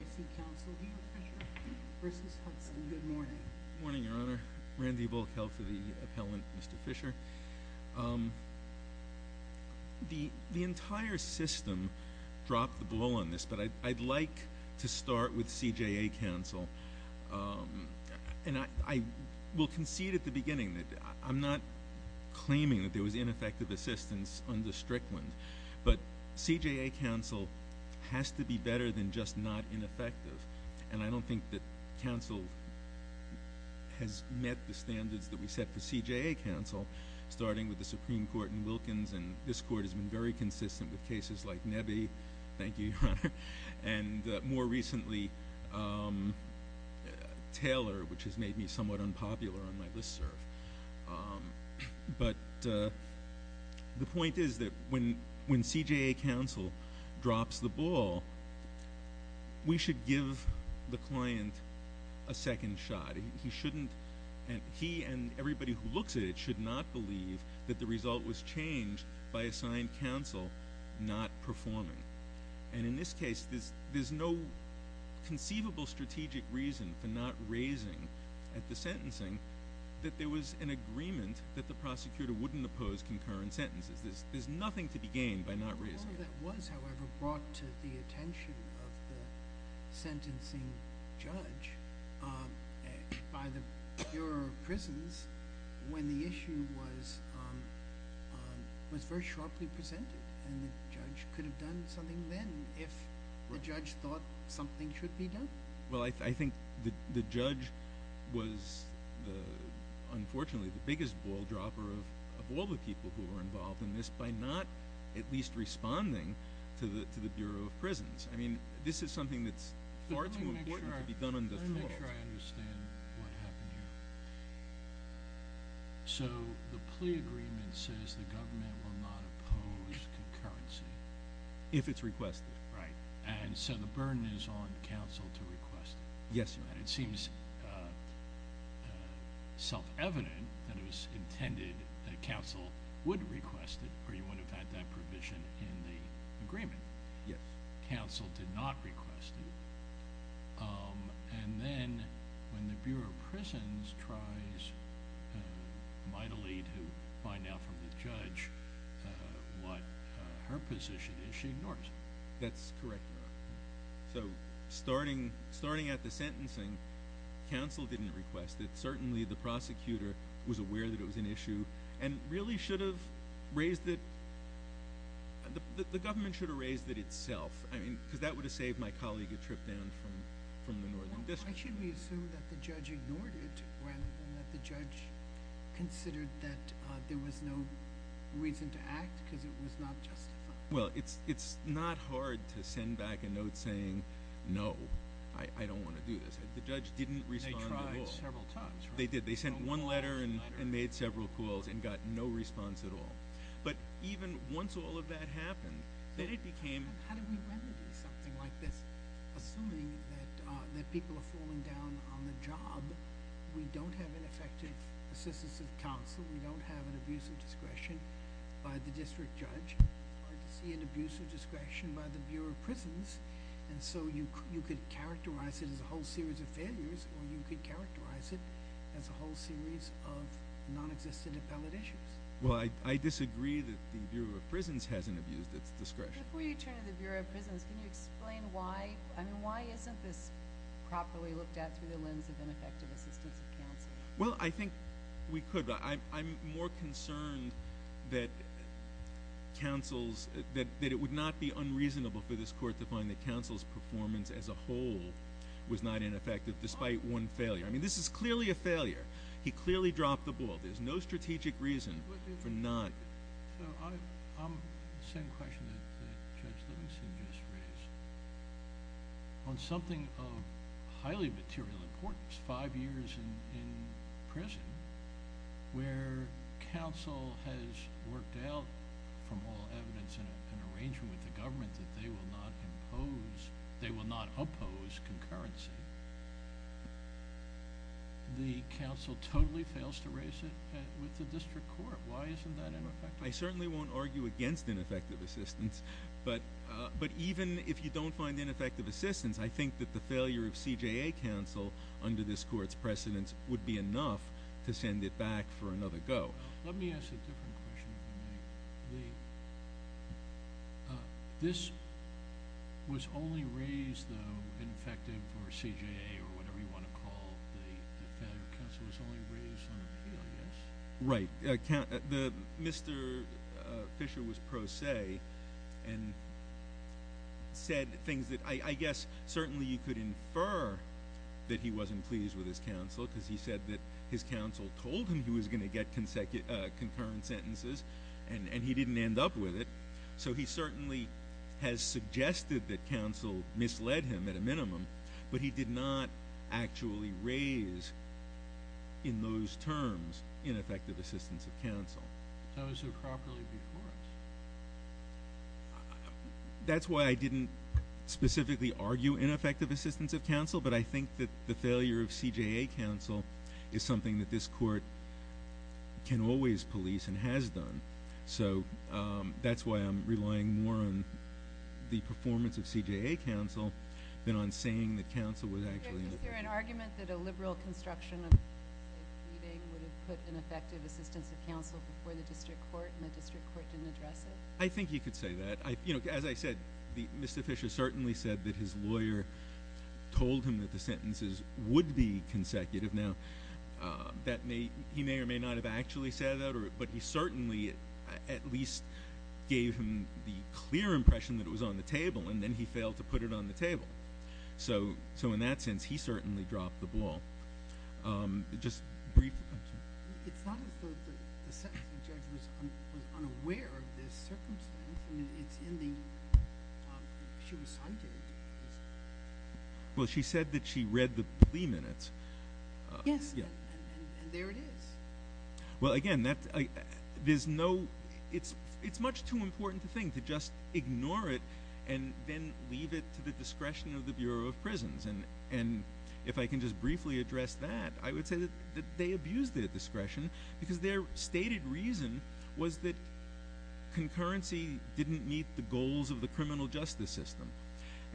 Good morning, Your Honor. Randy Volkel for the appellant, Mr. Fisher. The entire system dropped the ball on this, but I'd like to start with CJA counsel. And I will concede at the beginning that I'm not claiming that there was ineffective assistance under Strickland, but CJA counsel has to be better than just not ineffective. And I don't think that counsel has met the standards that we set for CJA counsel, starting with the Supreme Court in Wilkins, and this Court has been very consistent with cases like Nebbe. Thank you, Your Honor. And more recently, Taylor, which has made me somewhat unpopular on my listserv. But the point is that when CJA counsel drops the ball, we should give the client a second shot. He and everybody who looks at it should not believe that the result was changed by assigned counsel not performing. And in this case, there's no conceivable strategic reason for not raising at the sentencing that there was an agreement that the prosecutor wouldn't oppose concurrent sentences. There's nothing to be gained by not raising. All of that was, however, brought to the attention of the sentencing judge by the Bureau of Prisons when the issue was very sharply presented. And the judge could have done something then if the judge thought something should be done. Well, I think the judge was, unfortunately, the biggest ball dropper of all the people who were involved in this by not at least responding to the Bureau of Prisons. I mean, this is something that's far too important to be done on the floor. Let me make sure I understand what happened here. So the plea agreement says the government will not oppose concurrency. If it's requested. Right. And so the burden is on counsel to request it. Yes. It seems self-evident that it was intended that counsel would request it or you wouldn't have had that provision in the agreement. Yes. Counsel did not request it. And then when the Bureau of Prisons tries mightily to find out from the judge what her position is, she ignores it. That's correct, Your Honor. So starting at the sentencing, counsel didn't request it. Certainly, the prosecutor was aware that it was an issue and really should have raised it. The government should have raised it itself. I mean, because that would have saved my colleague a trip down from the northern district. Why should we assume that the judge ignored it rather than that the judge considered that there was no reason to act because it was not justified? Well, it's not hard to send back a note saying, no, I don't want to do this. The judge didn't respond at all. They tried several times. They did. They sent one letter and made several calls and got no response at all. But even once all of that happened, then it became— How do we remedy something like this? Assuming that people are falling down on the job, we don't have an effective assistance of counsel. We don't have an abuse of discretion by the district judge. It's hard to see an abuse of discretion by the Bureau of Prisons. And so you could characterize it as a whole series of failures or you could characterize it as a whole series of nonexistent appellate issues. Well, I disagree that the Bureau of Prisons hasn't abused its discretion. Before you turn to the Bureau of Prisons, can you explain why? I mean, why isn't this properly looked at through the lens of ineffective assistance of counsel? Well, I think we could. I'm more concerned that it would not be unreasonable for this court to find that counsel's performance as a whole was not ineffective despite one failure. I mean, this is clearly a failure. He clearly dropped the ball. There's no strategic reason for not— So I'm—the same question that Judge Livingston just raised. On something of highly material importance, five years in prison where counsel has worked out from all evidence and arrangement with the government that they will not impose—they will not oppose concurrency, the counsel totally fails to raise it with the district court. Why isn't that ineffective? I certainly won't argue against ineffective assistance. But even if you don't find ineffective assistance, I think that the failure of CJA counsel under this court's precedence would be enough to send it back for another go. Let me ask a different question, if I may. This was only raised, though, ineffective for CJA or whatever you want to call the failure of counsel. It was only raised on appeal, yes? Right. Mr. Fisher was pro se and said things that I guess certainly you could infer that he wasn't pleased with his counsel because he said that his counsel told him he was going to get concurrent sentences, and he didn't end up with it. So he certainly has suggested that counsel misled him at a minimum, but he did not actually raise in those terms ineffective assistance of counsel. Those who are properly before us. That's why I didn't specifically argue ineffective assistance of counsel, but I think that the failure of CJA counsel is something that this court can always police and has done. So that's why I'm relying more on the performance of CJA counsel than on saying that counsel was actually— Is there an argument that a liberal construction of a pleading would have put ineffective assistance of counsel before the district court and the district court didn't address it? I think you could say that. As I said, Mr. Fisher certainly said that his lawyer told him that the sentences would be consecutive. Now, he may or may not have actually said that, but he certainly at least gave him the clear impression that it was on the table, and then he failed to put it on the table. So in that sense, he certainly dropped the ball. Just briefly— It's not as though the sentencing judge was unaware of this circumstance. It's in the—she was cited. Well, she said that she read the plea minutes. Yes, and there it is. Well, again, there's no—it's much too important a thing to just ignore it and then leave it to the discretion of the Bureau of Prisons. And if I can just briefly address that, I would say that they abused their discretion because their stated reason was that concurrency didn't meet the goals of the criminal justice system.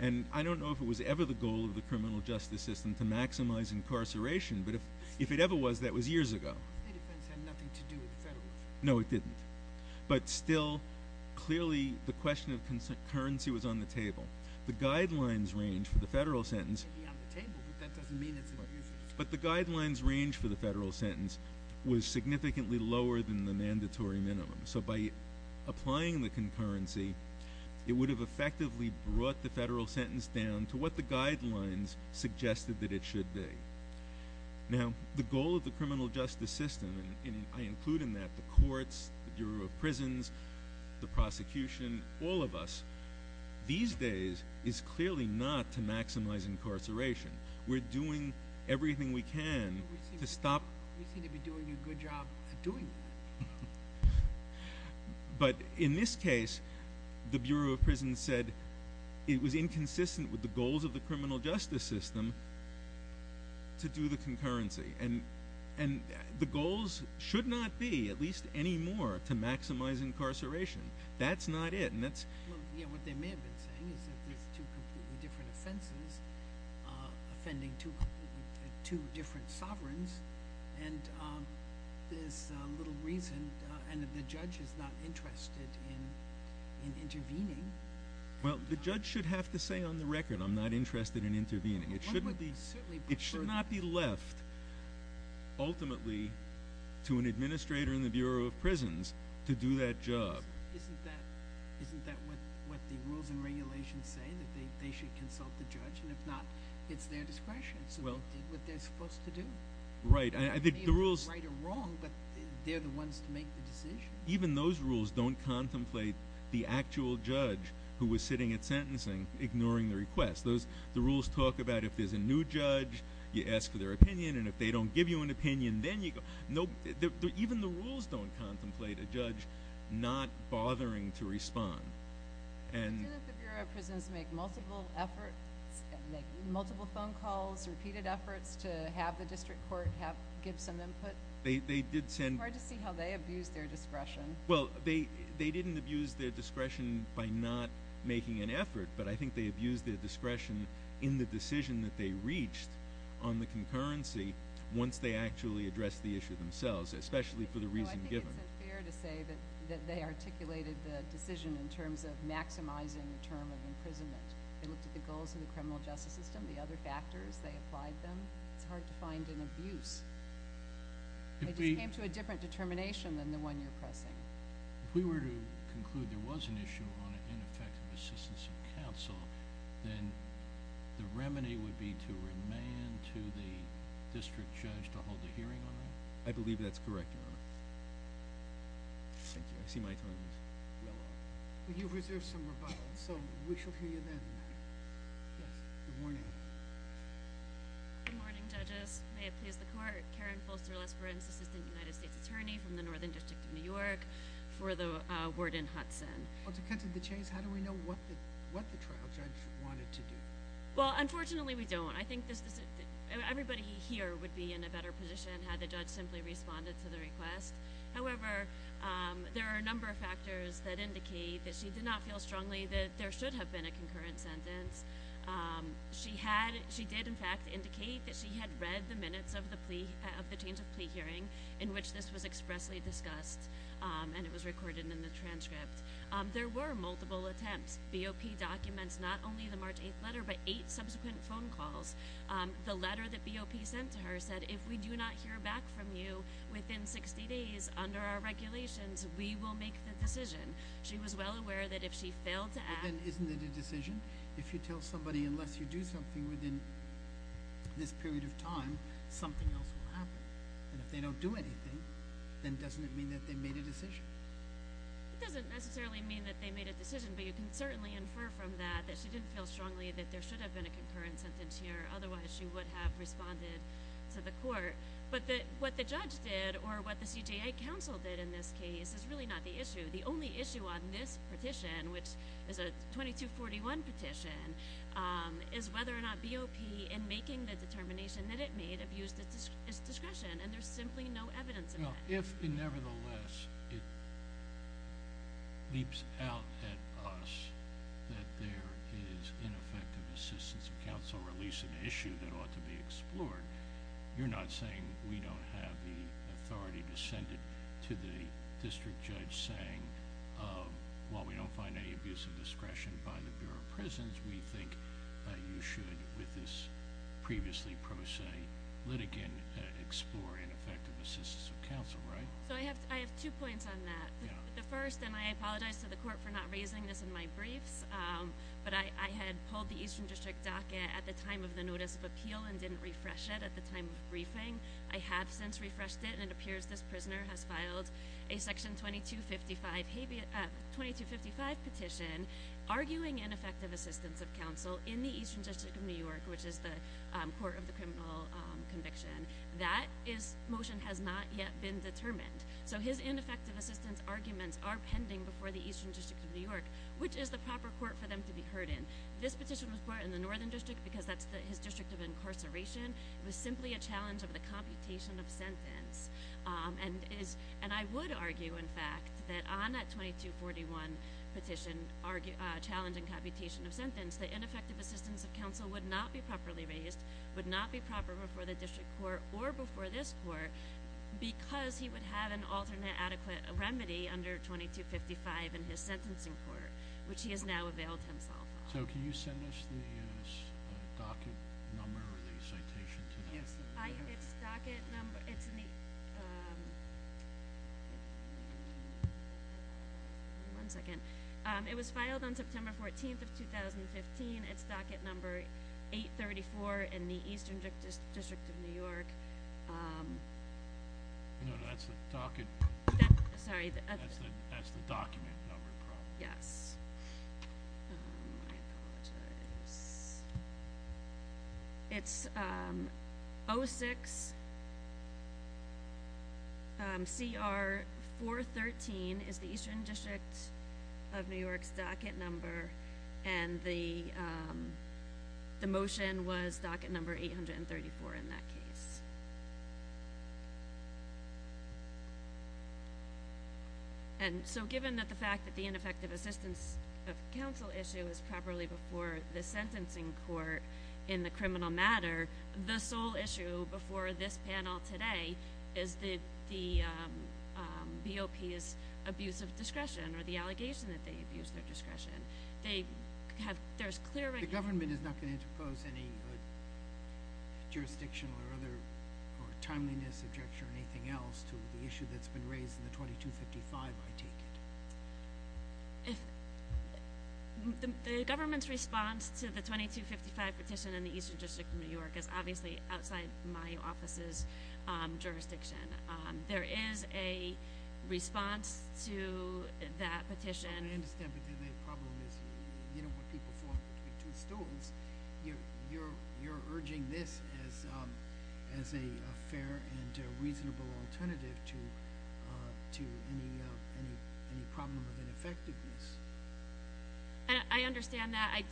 And I don't know if it was ever the goal of the criminal justice system to maximize incarceration, but if it ever was, that was years ago. The state defense had nothing to do with the federal. No, it didn't. But still, clearly, the question of concurrency was on the table. The guidelines range for the federal sentence— It may be on the table, but that doesn't mean it's abusive. But the guidelines range for the federal sentence was significantly lower than the mandatory minimum. So by applying the concurrency, it would have effectively brought the federal sentence down to what the guidelines suggested that it should be. Now, the goal of the criminal justice system—and I include in that the courts, the Bureau of Prisons, the prosecution, all of us— these days is clearly not to maximize incarceration. We're doing everything we can to stop— You seem to be doing a good job at doing that. But in this case, the Bureau of Prisons said it was inconsistent with the goals of the criminal justice system to do the concurrency. And the goals should not be, at least any more, to maximize incarceration. That's not it. What they may have been saying is that there's two completely different offenses offending two different sovereigns. And there's little reason—and the judge is not interested in intervening. Well, the judge should have to say on the record, I'm not interested in intervening. It should not be left, ultimately, to an administrator in the Bureau of Prisons to do that job. Isn't that what the rules and regulations say, that they should consult the judge? And if not, it's their discretion. It's what they're supposed to do. Right. They may be right or wrong, but they're the ones to make the decision. Even those rules don't contemplate the actual judge who was sitting at sentencing ignoring the request. The rules talk about if there's a new judge, you ask for their opinion. And if they don't give you an opinion, then you go— Even the rules don't contemplate a judge not bothering to respond. But didn't the Bureau of Prisons make multiple efforts, make multiple phone calls, repeated efforts to have the district court give some input? They did send— It's hard to see how they abused their discretion. Well, they didn't abuse their discretion by not making an effort, but I think they abused their discretion in the decision that they reached on the concurrency once they actually addressed the issue themselves, especially for the reason given. I think it's unfair to say that they articulated the decision in terms of maximizing the term of imprisonment. They looked at the goals of the criminal justice system, the other factors. They applied them. It's hard to find an abuse. It just came to a different determination than the one you're pressing. If we were to conclude there was an issue on ineffective assistance of counsel, then the remedy would be to remand to the district judge to hold a hearing on that? I believe that's correct, Your Honor. Thank you. I see my time is well up. Well, you've reserved some rebuttal, so we shall hear you then. Yes, good morning. Good morning, judges. May it please the Court. Karen Folster-Lesperance, assistant United States attorney from the Northern District of New York, for the word in Hudson. Well, to cut to the chase, how do we know what the trial judge wanted to do? Well, unfortunately we don't. I think everybody here would be in a better position had the judge simply responded to the request. However, there are a number of factors that indicate that she did not feel strongly that there should have been a concurrent sentence. She did, in fact, indicate that she had read the minutes of the change of plea hearing in which this was expressly discussed, and it was recorded in the transcript. There were multiple attempts. BOP documents not only the March 8th letter but eight subsequent phone calls. The letter that BOP sent to her said, if we do not hear back from you within 60 days under our regulations, we will make the decision. She was well aware that if she failed to act then isn't it a decision? If you tell somebody unless you do something within this period of time, something else will happen. And if they don't do anything, then doesn't it mean that they made a decision? It doesn't necessarily mean that they made a decision, but you can certainly infer from that that she didn't feel strongly that there should have been a concurrent sentence here, otherwise she would have responded to the Court. But what the judge did or what the CJA counsel did in this case is really not the issue. The only issue on this petition, which is a 2241 petition, is whether or not BOP in making the determination that it made abused its discretion, and there's simply no evidence of that. If, nevertheless, it leaps out at us that there is ineffective assistance of counsel, or at least an issue that ought to be explored, you're not saying we don't have the authority to send it to the district judge saying, while we don't find any abuse of discretion by the Bureau of Prisons, we think you should, with this previously pro se litigant, explore ineffective assistance of counsel, right? So I have two points on that. The first, and I apologize to the Court for not raising this in my briefs, but I had pulled the Eastern District docket at the time of the notice of appeal and didn't refresh it at the time of briefing. I have since refreshed it, and it appears this prisoner has filed a section 2255 petition arguing ineffective assistance of counsel in the Eastern District of New York, which is the court of the criminal conviction. That motion has not yet been determined. So his ineffective assistance arguments are pending before the Eastern District of New York, which is the proper court for them to be heard in. This petition was brought in the Northern District because that's his district of incarceration. It was simply a challenge of the computation of sentence. And I would argue, in fact, that on that 2241 petition challenging computation of sentence, the ineffective assistance of counsel would not be properly raised, would not be proper before the district court or before this court because he would have an alternate adequate remedy under 2255 in his sentencing court, which he has now availed himself of. So can you send us the docket number or the citation to that? Yes, it's docket number. One second. It was filed on September 14th of 2015. It's docket number 834 in the Eastern District of New York. No, that's the docket. Sorry. That's the document number. Yes. I apologize. It's 06CR413 is the Eastern District of New York's docket number. And the motion was docket number 834 in that case. And so given that the fact that the ineffective assistance of counsel issue is properly before the sentencing court in the criminal matter, the sole issue before this panel today is the BOP's abuse of discretion or the allegation that they abuse their discretion. The government is not going to impose any jurisdiction or other timeliness, objection, or anything else to the issue that's been raised in the 2255, I take it? The government's response to the 2255 petition in the Eastern District of New York is obviously outside my office's jurisdiction. There is a response to that petition. I understand. But then the problem is you don't want people falling between two stools. You're urging this as a fair and reasonable alternative to any problem of ineffectiveness. I understand that. I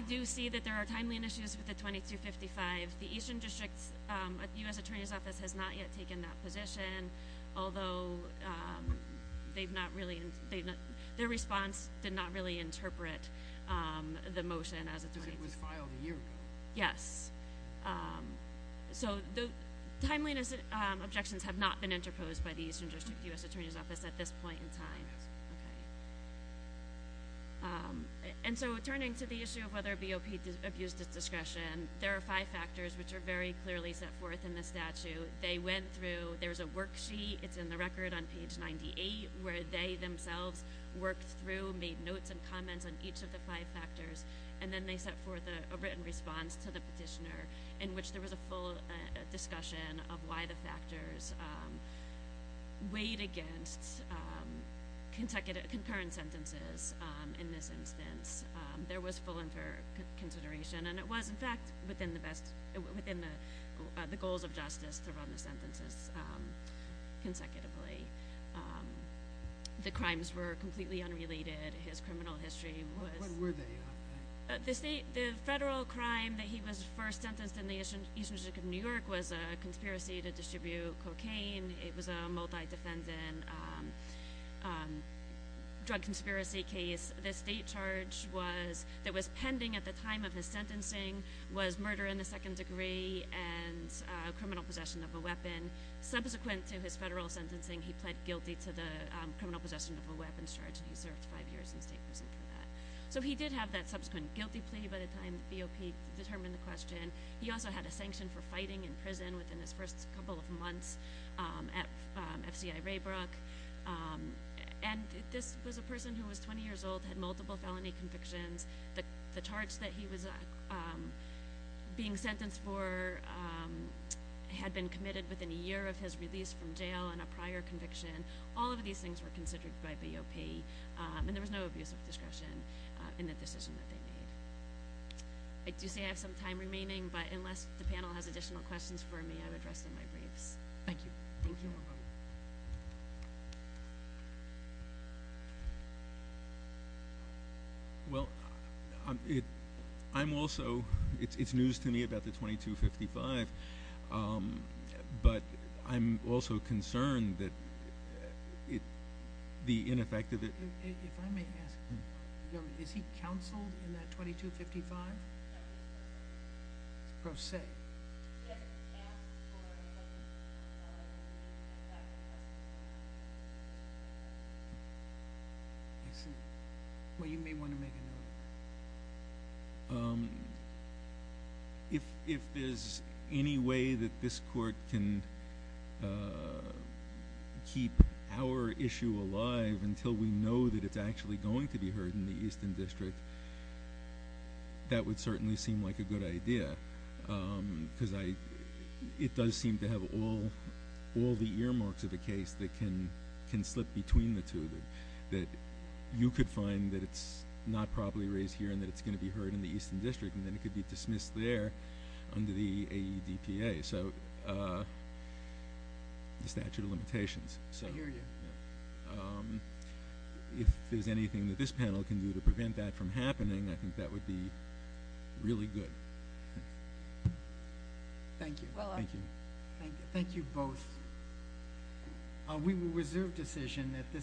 do see that there are timely initiatives with the 2255. The Eastern District's U.S. Attorney's Office has not yet taken that position, although their response did not really interpret the motion as a 2255. Because it was filed a year ago. Yes. So the timeliness objections have not been interposed by the Eastern District U.S. Attorney's Office at this point in time. Yes. Okay. And so turning to the issue of whether BOP abused its discretion, there are five factors which are very clearly set forth in the statute. They went through. There's a worksheet. It's in the record on page 98 where they themselves worked through, made notes and comments on each of the five factors, and then they set forth a written response to the petitioner in which there was a full discussion of why the factors weighed against concurrent sentences in this instance. There was full and fair consideration, and it was, in fact, within the goals of justice to run the sentences consecutively. The crimes were completely unrelated. His criminal history was. What were they? The federal crime that he was first sentenced in the Eastern District of New York was a conspiracy to distribute cocaine. It was a multi-defendant drug conspiracy case. The state charge that was pending at the time of his sentencing was murder in the second degree and criminal possession of a weapon. Subsequent to his federal sentencing, he pled guilty to the criminal possession of a weapons charge, and he served five years in state prison for that. So he did have that subsequent guilty plea by the time the BOP determined the question. He also had a sanction for fighting in prison within his first couple of months at FCI Raybrook, and this was a person who was 20 years old, had multiple felony convictions. The charge that he was being sentenced for had been committed within a year of his release from jail and a prior conviction. All of these things were considered by BOP, and there was no abuse of discretion in the decision that they made. I do say I have some time remaining, but unless the panel has additional questions for me, I would rest in my briefs. Thank you. Thank you. Well, I'm also—it's news to me about the 2255, but I'm also concerned that the ineffectiveness— If I may ask, is he counseled in that 2255? Pro se. Yes. Well, you may want to make a note. If there's any way that this Court can keep our issue alive until we know that it's actually going to be heard in the Easton District, that would certainly seem like a good idea, because it does seem to have all the earmarks of a case that can slip between the two, that you could find that it's not properly raised here and that it's going to be heard in the Easton District, and then it could be dismissed there under the AEDPA, the statute of limitations. I hear you. If there's anything that this panel can do to prevent that from happening, I think that would be really good. Thank you. Thank you. Thank you both. We will reserve decision at this time.